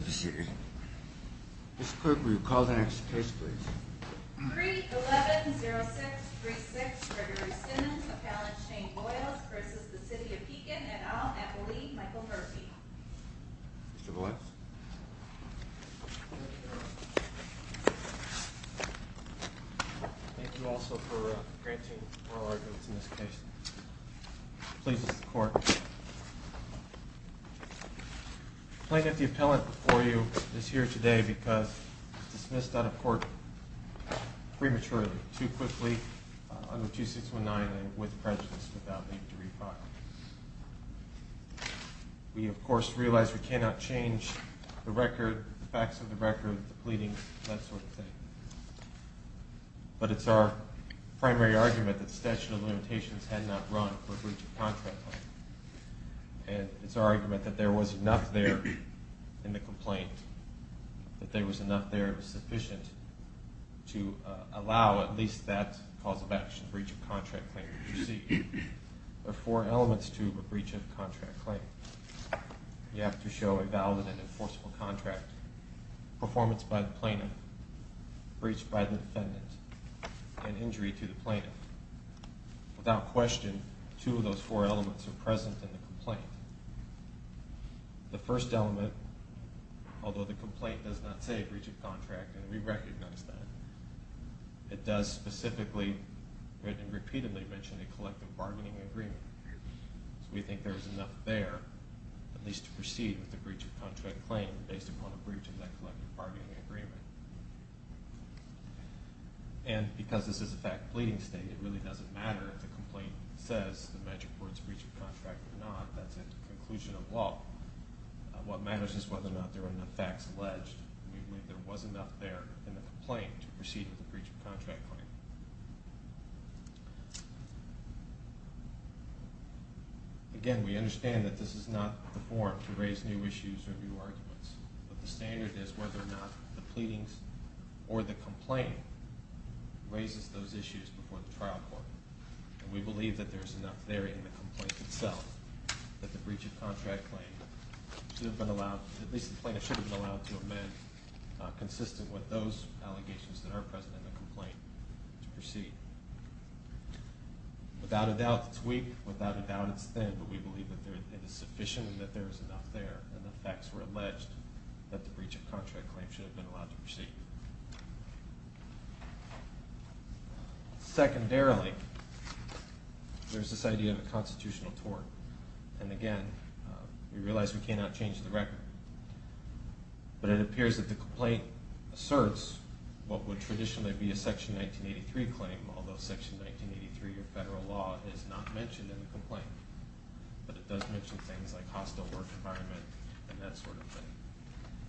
Mr. Clerk, will you call the next case, please? Crete 11-06-36, Gregory Simmons, Appellant Shane Boyles, v. The City of Pekin, et al., Appellee Michael Murphy Mr. Boyles Thank you also for granting oral arguments in this case. Please, Mr. Clerk. The plaintiff, the appellant before you, is here today because he was dismissed out of court prematurely, too quickly, under 2619 and with prejudice without need to re-file. We, of course, realize we cannot change the record, the facts of the record, the pleadings, that sort of thing. But it's our primary argument that statute of limitations had not run for breach of contract claim. And it's our argument that there was enough there in the complaint, that there was enough there, it was sufficient to allow at least that cause of action, breach of contract claim, to proceed. There are four elements to a breach of contract claim. You have to show a valid and enforceable contract, performance by the plaintiff, breach by the defendant, and injury to the plaintiff. Without question, two of those four elements are present in the complaint. The first element, although the complaint does not say breach of contract, and we recognize that, it does specifically and repeatedly mention a collective bargaining agreement. We think there is enough there, at least to proceed with a breach of contract claim based upon a breach of that collective bargaining agreement. And because this is a fact-pleading state, it really doesn't matter if the complaint says the magic words breach of contract or not. That's a conclusion of law. What matters is whether or not there are enough facts alleged. We believe there was enough there in the complaint to proceed with a breach of contract claim. Again, we understand that this is not the forum to raise new issues or new arguments. But the standard is whether or not the pleadings or the complaint raises those issues before the trial court. And we believe that there is enough there in the complaint itself that the breach of contract claim should have been allowed, at least the plaintiff should have been allowed to amend consistent with those allegations that are present in the complaint to proceed. Without a doubt, it's weak. Without a doubt, it's thin. But we believe that it is sufficient and that there is enough there. And the facts were alleged that the breach of contract claim should have been allowed to proceed. Secondarily, there's this idea of a constitutional tort. And again, we realize we cannot change the record. But it appears that the complaint asserts what would traditionally be a Section 1983 claim, although Section 1983 of federal law is not mentioned in the complaint. But it does mention things like hostile work environment and that sort of thing.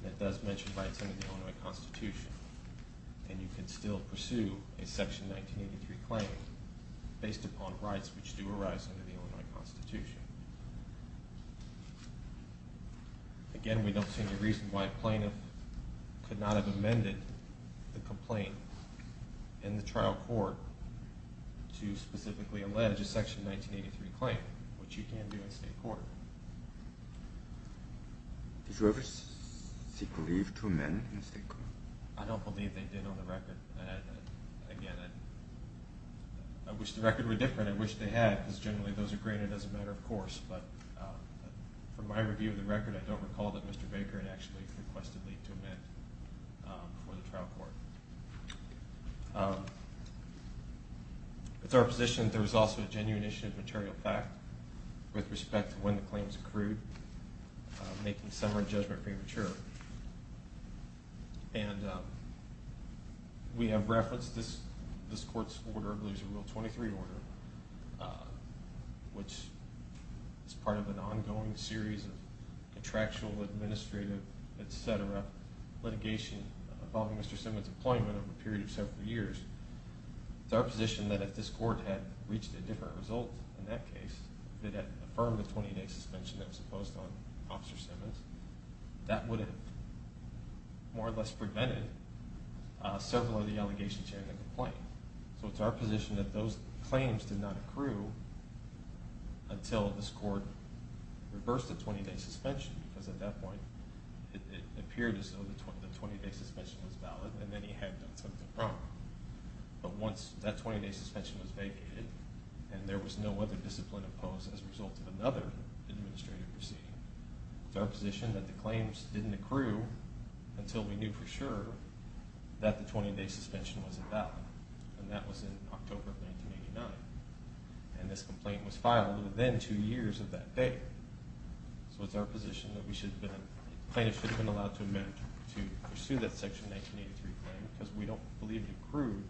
And it does mention rights under the Illinois Constitution. And you can still pursue a Section 1983 claim based upon rights which do arise under the Illinois Constitution. Again, we don't see any reason why a plaintiff could not have amended the complaint in the trial court to specifically allege a Section 1983 claim, which you can do in state court. Did you ever seek relief to amend in state court? I don't believe they did on the record. Again, I wish the record were different. And I wish they had, because generally those are granted as a matter of course. But from my review of the record, I don't recall that Mr. Baker had actually requested leave to amend for the trial court. With our position, there was also a genuine issue of material fact with respect to when the claims accrued, making summary judgment premature. And we have referenced this court's order, I believe it was Rule 23 order, which is part of an ongoing series of contractual, administrative, etc. litigation involving Mr. Simmons' employment over a period of several years. It's our position that if this court had reached a different result in that case, if it had affirmed a 20-day suspension that was imposed on Officer Simmons, that would have more or less prevented several of the allegations here in the complaint. So it's our position that those claims did not accrue until this court reversed the 20-day suspension, because at that point it appeared as though the 20-day suspension was valid and then he had done something wrong. But once that 20-day suspension was vacated and there was no other discipline imposed as a result of another administrative proceeding, it's our position that the claims didn't accrue until we knew for sure that the 20-day suspension was invalid. And that was in October of 1989. And this complaint was filed within two years of that date. So it's our position that plaintiffs should have been allowed to amend to pursue that Section 1983 claim, because we don't believe it accrued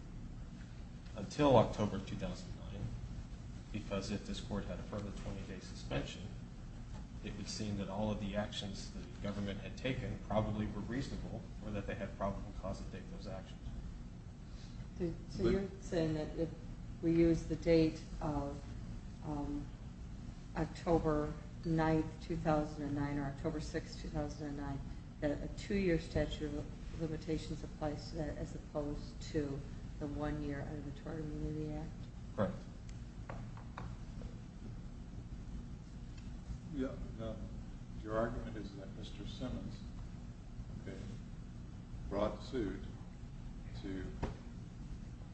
until October of 2009, because if this court had affirmed a 20-day suspension, it would seem that all of the actions that the government had taken probably were reasonable, or that they had probable cause to take those actions. So you're saying that if we use the date of October 9, 2009, or October 6, 2009, that a two-year statute of limitations applies to that as opposed to the one-year Auditory Remuneration Act? Correct. Your argument is that Mr. Simmons brought the suit to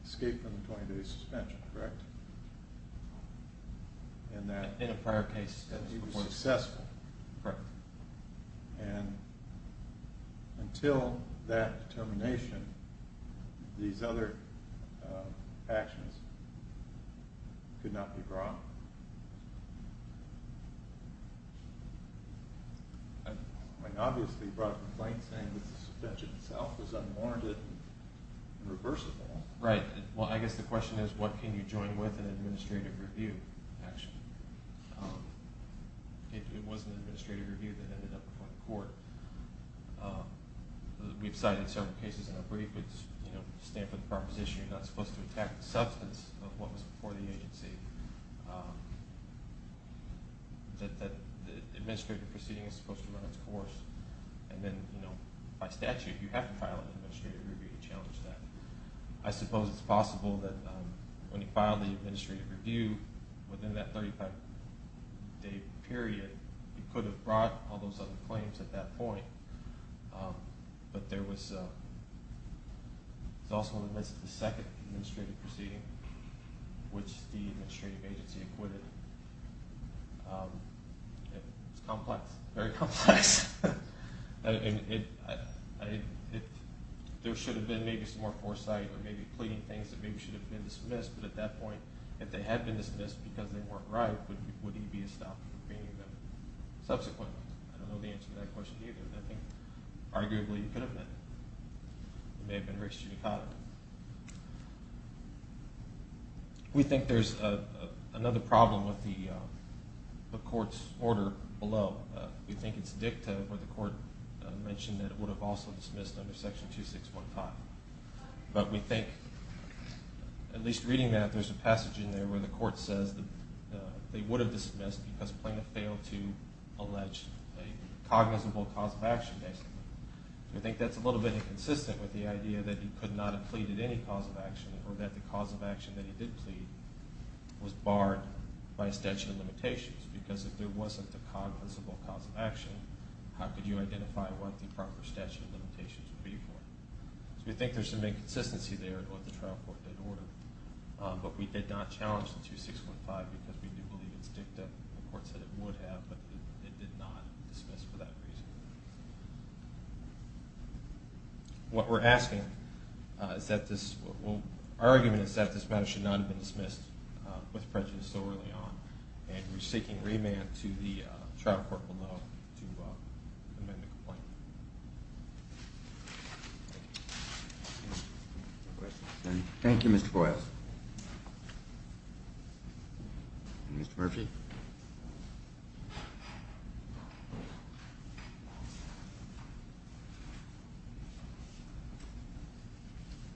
escape from the 20-day suspension, correct? In a prior case. Correct. And until that determination, these other actions could not be brought? I mean, obviously he brought a complaint saying that the suspension itself was unwarranted and reversible. Right. Well, I guess the question is, what can you join with in an administrative review action? It was an administrative review that ended up before the court. We've cited several cases in our brief that stand for the proposition that you're not supposed to attack the substance of what was before the agency, that the administrative proceeding is supposed to run its course, and then by statute you have to file an administrative review to challenge that. I suppose it's possible that when he filed the administrative review within that 35-day period, he could have brought all those other claims at that point. But there was also the second administrative proceeding, which the administrative agency acquitted. It was complex, very complex. There should have been maybe some more foresight or maybe pleading things that maybe should have been dismissed, but at that point, if they had been dismissed because they weren't right, would he be stopped from pleading them subsequently? I don't know the answer to that question either, but I think arguably he could have been. It may have been Rick Shinakata. We think there's another problem with the court's order below. We think it's dicta where the court mentioned that it would have also dismissed under Section 2615. But we think, at least reading that, there's a passage in there where the court says that they would have dismissed because Plaintiff failed to allege a cognizable cause of action, basically. We think that's a little bit inconsistent with the idea that he could not have pleaded any cause of action or that the cause of action that he did plead was barred by a statute of limitations because if there wasn't a cognizable cause of action, how could you identify what the proper statute of limitations would be for? So we think there's some inconsistency there in what the trial court did order, but we did not challenge the 2615 because we do believe it's dicta. The court said it would have, but it did not dismiss for that reason. What we're asking is that this—well, our argument is that this matter should not have been dismissed with prejudice so early on, and we're seeking remand to the trial court below to amend the complaint. Any questions? Thank you, Mr. Boyles. Mr. Murphy?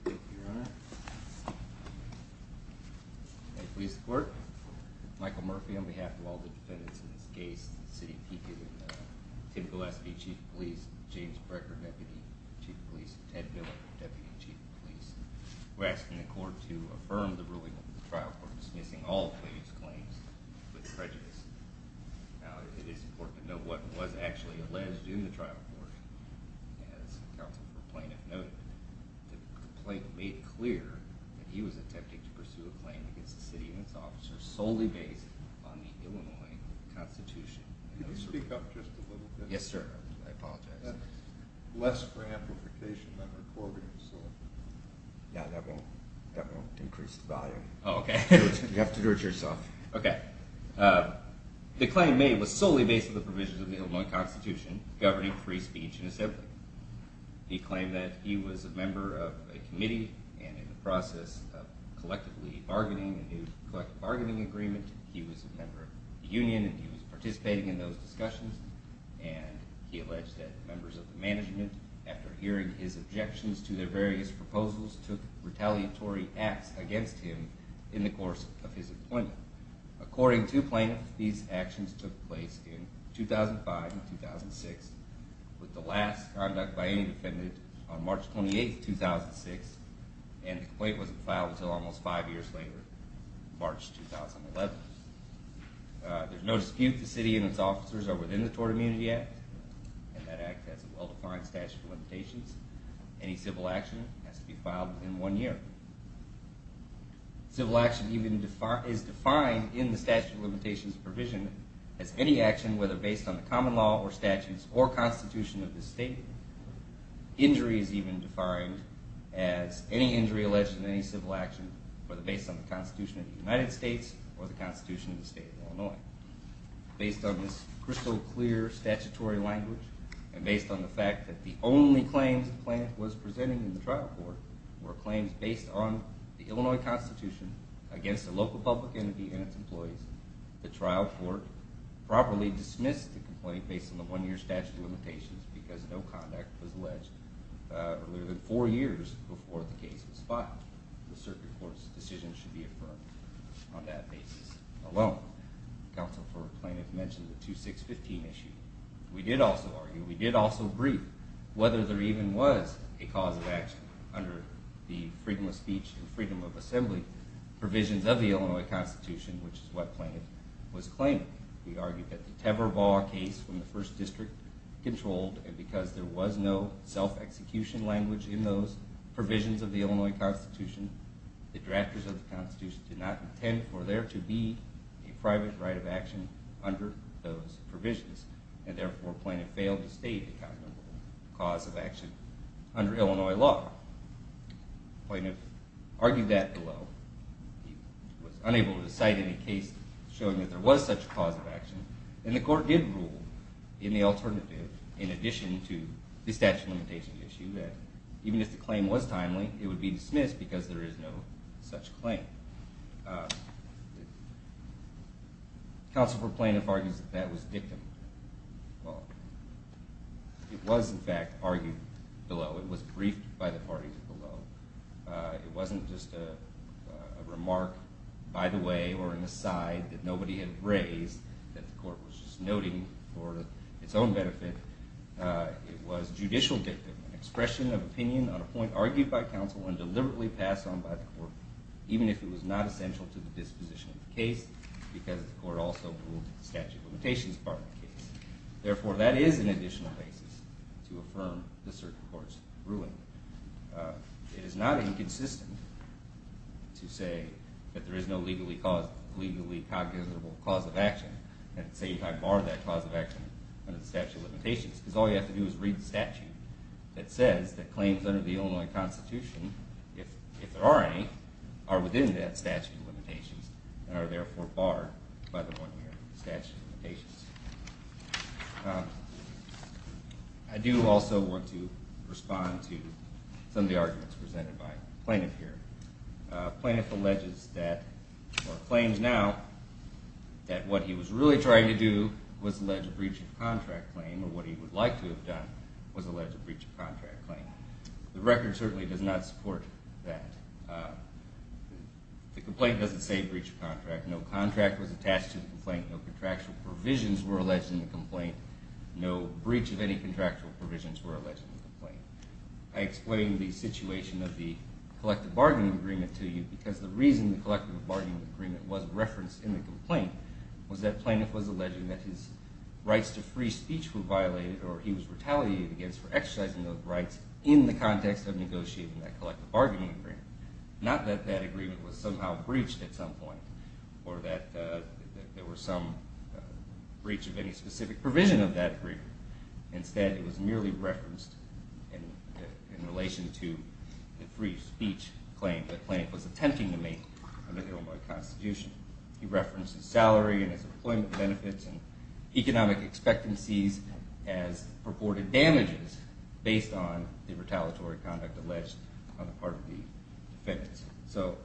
Thank you, Your Honor. May it please the Court? Michael Murphy on behalf of all the defendants in this case, the city of Pico, and Tim Gillespie, Chief of Police, James Brecker, Deputy Chief of Police, and Ted Miller, Deputy Chief of Police. We're asking the Court to affirm the ruling of the trial court dismissing all the plaintiff's claims with prejudice. Now, it is important to note what was actually alleged during the trial court. As counsel for plaintiff noted, the complaint made clear that he was attempting to pursue a claim against the city and its officers solely based on the Illinois Constitution. Could you speak up just a little bit? Yes, sir. I apologize. Less for amplification than recordings. Yeah, that won't increase the volume. Oh, okay. You have to do it yourself. Okay. The claim made was solely based on the provisions of the Illinois Constitution governing free speech and assembly. He claimed that he was a member of a committee and in the process of collectively bargaining a new collective bargaining agreement, he was a member of the union and he was participating in those discussions, and he alleged that members of the management, after hearing his objections to their various proposals, took retaliatory acts against him in the course of his appointment. According to plaintiff, these actions took place in 2005 and 2006, with the last conduct by any defendant on March 28, 2006, and the complaint wasn't filed until almost five years later, March 2011. There's no dispute the city and its officers are within the Tort Immunity Act, and that act has a well-defined statute of limitations. Any civil action has to be filed within one year. Civil action is defined in the statute of limitations provision as any action, whether based on the common law or statutes or constitution of the state. Injury is even defined as any injury alleged in any civil action, whether based on the constitution of the United States or the constitution of the state of Illinois. Based on this crystal clear statutory language, and based on the fact that the only claims the plaintiff was presenting in the trial court were claims based on the Illinois Constitution against a local public entity and its employees, the trial court properly dismissed the complaint based on the one-year statute of limitations because no conduct was alleged earlier than four years before the case was filed. The circuit court's decision should be affirmed on that basis alone. Counsel for the plaintiff mentioned the 2615 issue. We did also argue, we did also brief, whether there even was a cause of action under the freedom of speech and freedom of assembly provisions of the Illinois Constitution, which is what the plaintiff was claiming. We argued that the Tever Law case from the first district controlled, and because there was no self-execution language in those provisions of the Illinois Constitution, the drafters of the Constitution did not intend for there to be a private right of action under those provisions. And therefore, the plaintiff failed to state the cause of action under Illinois law. The plaintiff argued that below. He was unable to cite any case showing that there was such a cause of action. And the court did rule in the alternative, in addition to the statute of limitations issue, that even if the claim was timely, it would be dismissed because there is no such claim. Counsel for the plaintiff argues that that was dictum. Well, it was in fact argued below. It was briefed by the parties below. It wasn't just a remark by the way or an aside that nobody had raised, that the court was just noting for its own benefit. It was judicial dictum, an expression of opinion on a point argued by counsel and deliberately passed on by the court, even if it was not essential to the disposition of the case because the court also ruled that the statute of limitations was part of the case. Therefore, that is an additional basis to affirm the circuit court's ruling. It is not inconsistent to say that there is no legally cognizable cause of action and say you have barred that cause of action under the statute of limitations because all you have to do is read the statute that says that claims under the Illinois Constitution, if there are any, are within that statute of limitations and are therefore barred by the one here, the statute of limitations. I do also want to respond to some of the arguments presented by the plaintiff here. The plaintiff alleges that, or claims now, that what he was really trying to do was allege a breach of contract claim or what he would like to have done was allege a breach of contract claim. The record certainly does not support that. The complaint doesn't say breach of contract. No contract was attached to the complaint. No contractual provisions were alleged in the complaint. No breach of any contractual provisions were alleged in the complaint. I explained the situation of the collective bargaining agreement to you because the reason the collective bargaining agreement was referenced in the complaint was that the plaintiff was alleging that his rights to free speech were violated or he was retaliated against for exercising those rights in the context of negotiating that collective bargaining agreement. Not that that agreement was somehow breached at some point or that there was some breach of any specific provision of that agreement. Instead, it was merely referenced in relation to the free speech claim that the plaintiff was attempting to make under the Illinois Constitution. He referenced his salary and his employment benefits and economic expectancies as purported damages based on the retaliatory conduct alleged on the part of the defendants. So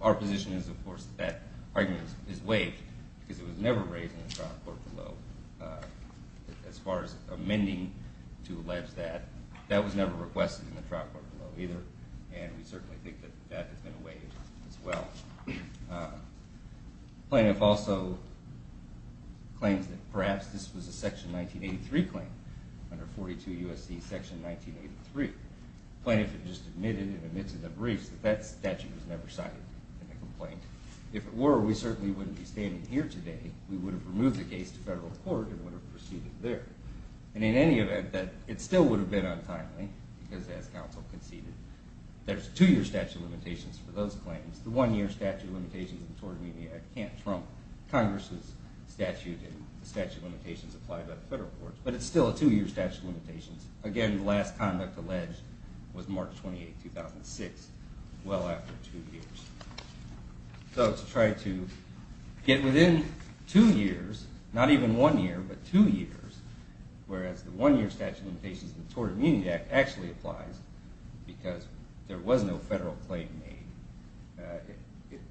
our position is, of course, that that argument is waived because it was never raised in the trial court below. As far as amending to allege that, that was never requested in the trial court below either and we certainly think that that has been waived as well. The plaintiff also claims that perhaps this was a section 1983 claim under 42 U.S.C. section 1983. The plaintiff had just admitted in the midst of the briefs that that statute was never cited in the complaint. If it were, we certainly wouldn't be standing here today. We would have removed the case to federal court and would have proceeded there. And in any event, it still would have been untimely because as counsel conceded, there's a two-year statute of limitations for those claims. The one-year statute of limitations in the Tort Amendment Act can't trump Congress' statute and the statute of limitations applied by the federal courts, but it's still a two-year statute of limitations. Again, the last conduct alleged was March 28, 2006, well after two years. So to try to get within two years, not even one year, but two years, whereas the one-year statute of limitations in the Tort Amendment Act actually applies because there was no federal claim made.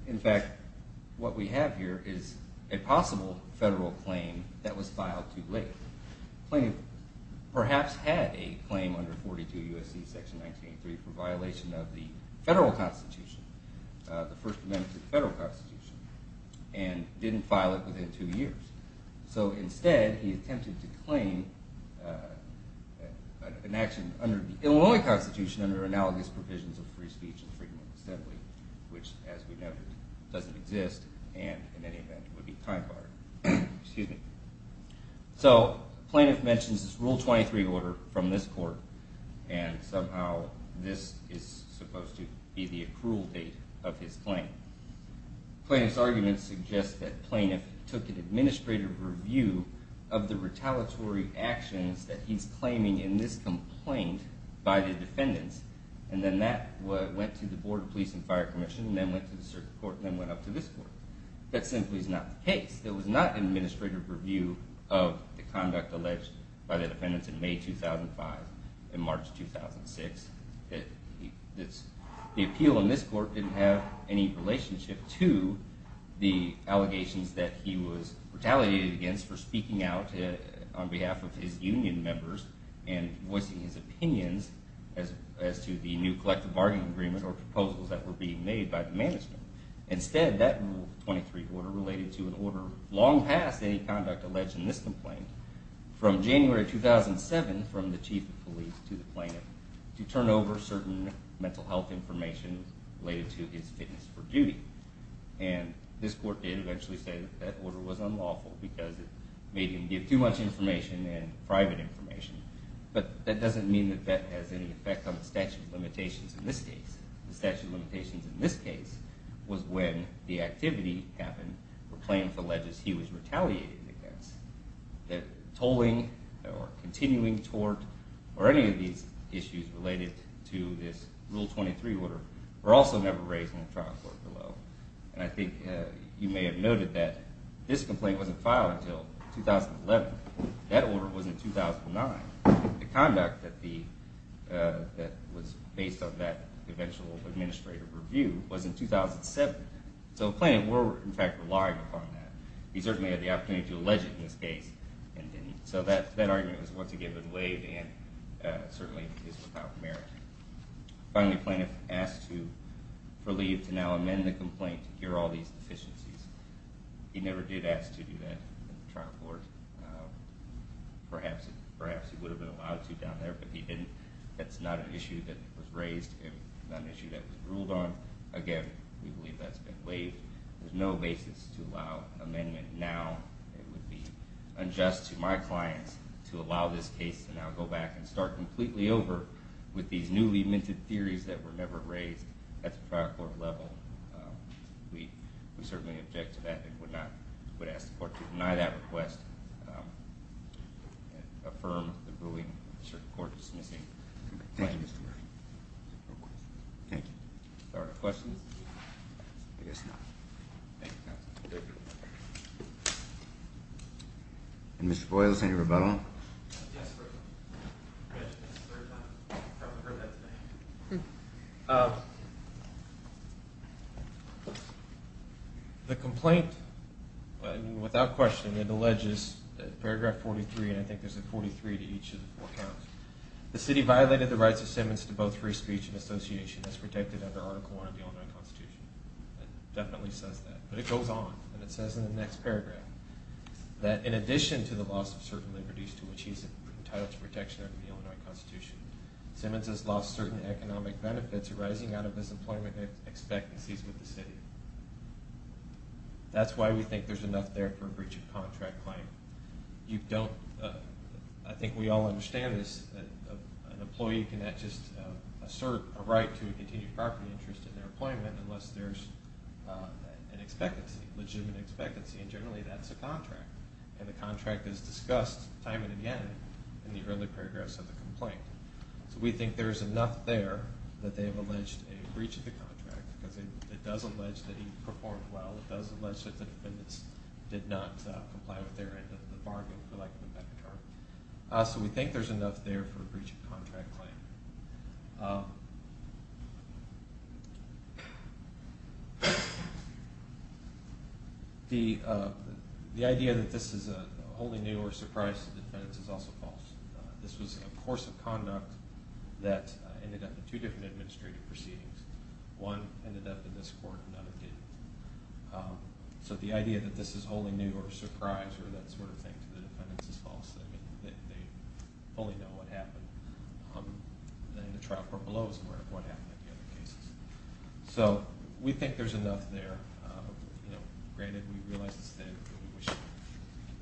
In fact, what we have here is a possible federal claim that was filed too late. The plaintiff perhaps had a claim under 42 U.S.C. section 1983 for violation of the federal constitution, the first amendment to the federal constitution, and didn't file it within two years. So instead, he attempted to claim an action under the Illinois constitution under analogous provisions of free speech and freedom of assembly, which as we know doesn't exist and in any event would be time-bothering. So the plaintiff mentions this Rule 23 order from this court, and somehow this is supposed to be the accrual date of his claim. The plaintiff's argument suggests that the plaintiff took an administrative review of the retaliatory actions that he's claiming in this complaint by the defendants, and then that went to the Board of Police and Fire Commission, and then went to the circuit court, and then went up to this court. That simply is not the case. There was not an administrative review of the conduct alleged by the defendants in May 2005 and March 2006. The appeal in this court didn't have any relationship to the allegations that he was retaliated against for speaking out on behalf of his union members and voicing his opinions as to the new collective bargaining agreement or proposals that were being made by the management. Instead, that Rule 23 order related to an order long past any conduct alleged in this complaint from January 2007 from the Chief of Police to the plaintiff to turn over certain mental health information related to his fitness for duty. And this court did eventually say that that order was unlawful because it made him give too much information and private information, but that doesn't mean that that has any effect on the statute of limitations in this case. The statute of limitations in this case was when the activity happened for plaintiff alleges he was retaliated against. That tolling or continuing tort or any of these issues related to this Rule 23 order were also never raised in the trial court below. And I think you may have noted that this complaint wasn't filed until 2011. That order was in 2009. The conduct that was based on that eventual administrative review was in 2007. So the plaintiff were, in fact, relying upon that. He certainly had the opportunity to allege it in this case and didn't. So that argument was once again waived and certainly is without merit. Finally, the plaintiff asked for leave to now amend the complaint to cure all these deficiencies. He never did ask to do that in the trial court. Perhaps he would have been allowed to down there, but he didn't. That's not an issue that was raised and not an issue that was ruled on. Again, we believe that's been waived. There's no basis to allow amendment now. It would be unjust to my clients to allow this case to now go back and start completely over with these newly minted theories that were never raised at the trial court level. We certainly object to that and would ask the court to deny that request and affirm the ruling. Is there a court dismissing? Thank you, Mr. Murphy. Thank you. Are there questions? I guess not. Thank you, counsel. Mr. Boyle, is there any rebuttal? Yes, sir. I mentioned this a third time. You probably heard that today. The complaint, without question, it alleges that paragraph 43, and I think there's a 43 to each of the four counts, the city violated the rights of Simmons to both free speech and association as protected under Article I of the Illinois Constitution. It definitely says that, but it goes on. It says in the next paragraph that in addition to the loss of certain liberties to which he's entitled to protection under the Illinois Constitution, Simmons has lost certain economic benefits arising out of his employment expectancies with the city. That's why we think there's enough there for a breach of contract claim. I think we all understand this. An employee cannot just assert a right to a continued property interest in their employment unless there's an expectancy, a legitimate expectancy, and generally that's a contract. And the contract is discussed time and again in the early paragraphs of the complaint. So we think there's enough there that they have alleged a breach of the contract because it does allege that he performed well. It does allege that the defendants did not comply with their end of the bargain, for lack of a better term. So we think there's enough there for a breach of contract claim. The idea that this is wholly new or a surprise to the defendants is also false. This was a course of conduct that ended up in two different administrative proceedings. One ended up in this court and another didn't. So the idea that this is wholly new or a surprise or that sort of thing to the defendants is false. They fully know what happened. And the trial court below is aware of what happened in the other cases. So we think there's enough there. Granted, we realize that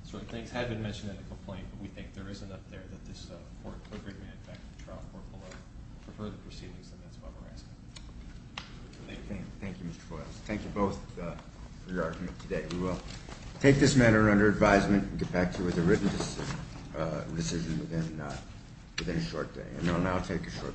certain things have been mentioned in the complaint, but we think there is enough there that this court could bring it back to the trial court below for further proceedings and that's why we're asking. Thank you, Mr. Boyles. Thank you both for your argument today. We will take this matter under advisement and get back to you with a written decision within a short day. And I'll now take a short recess.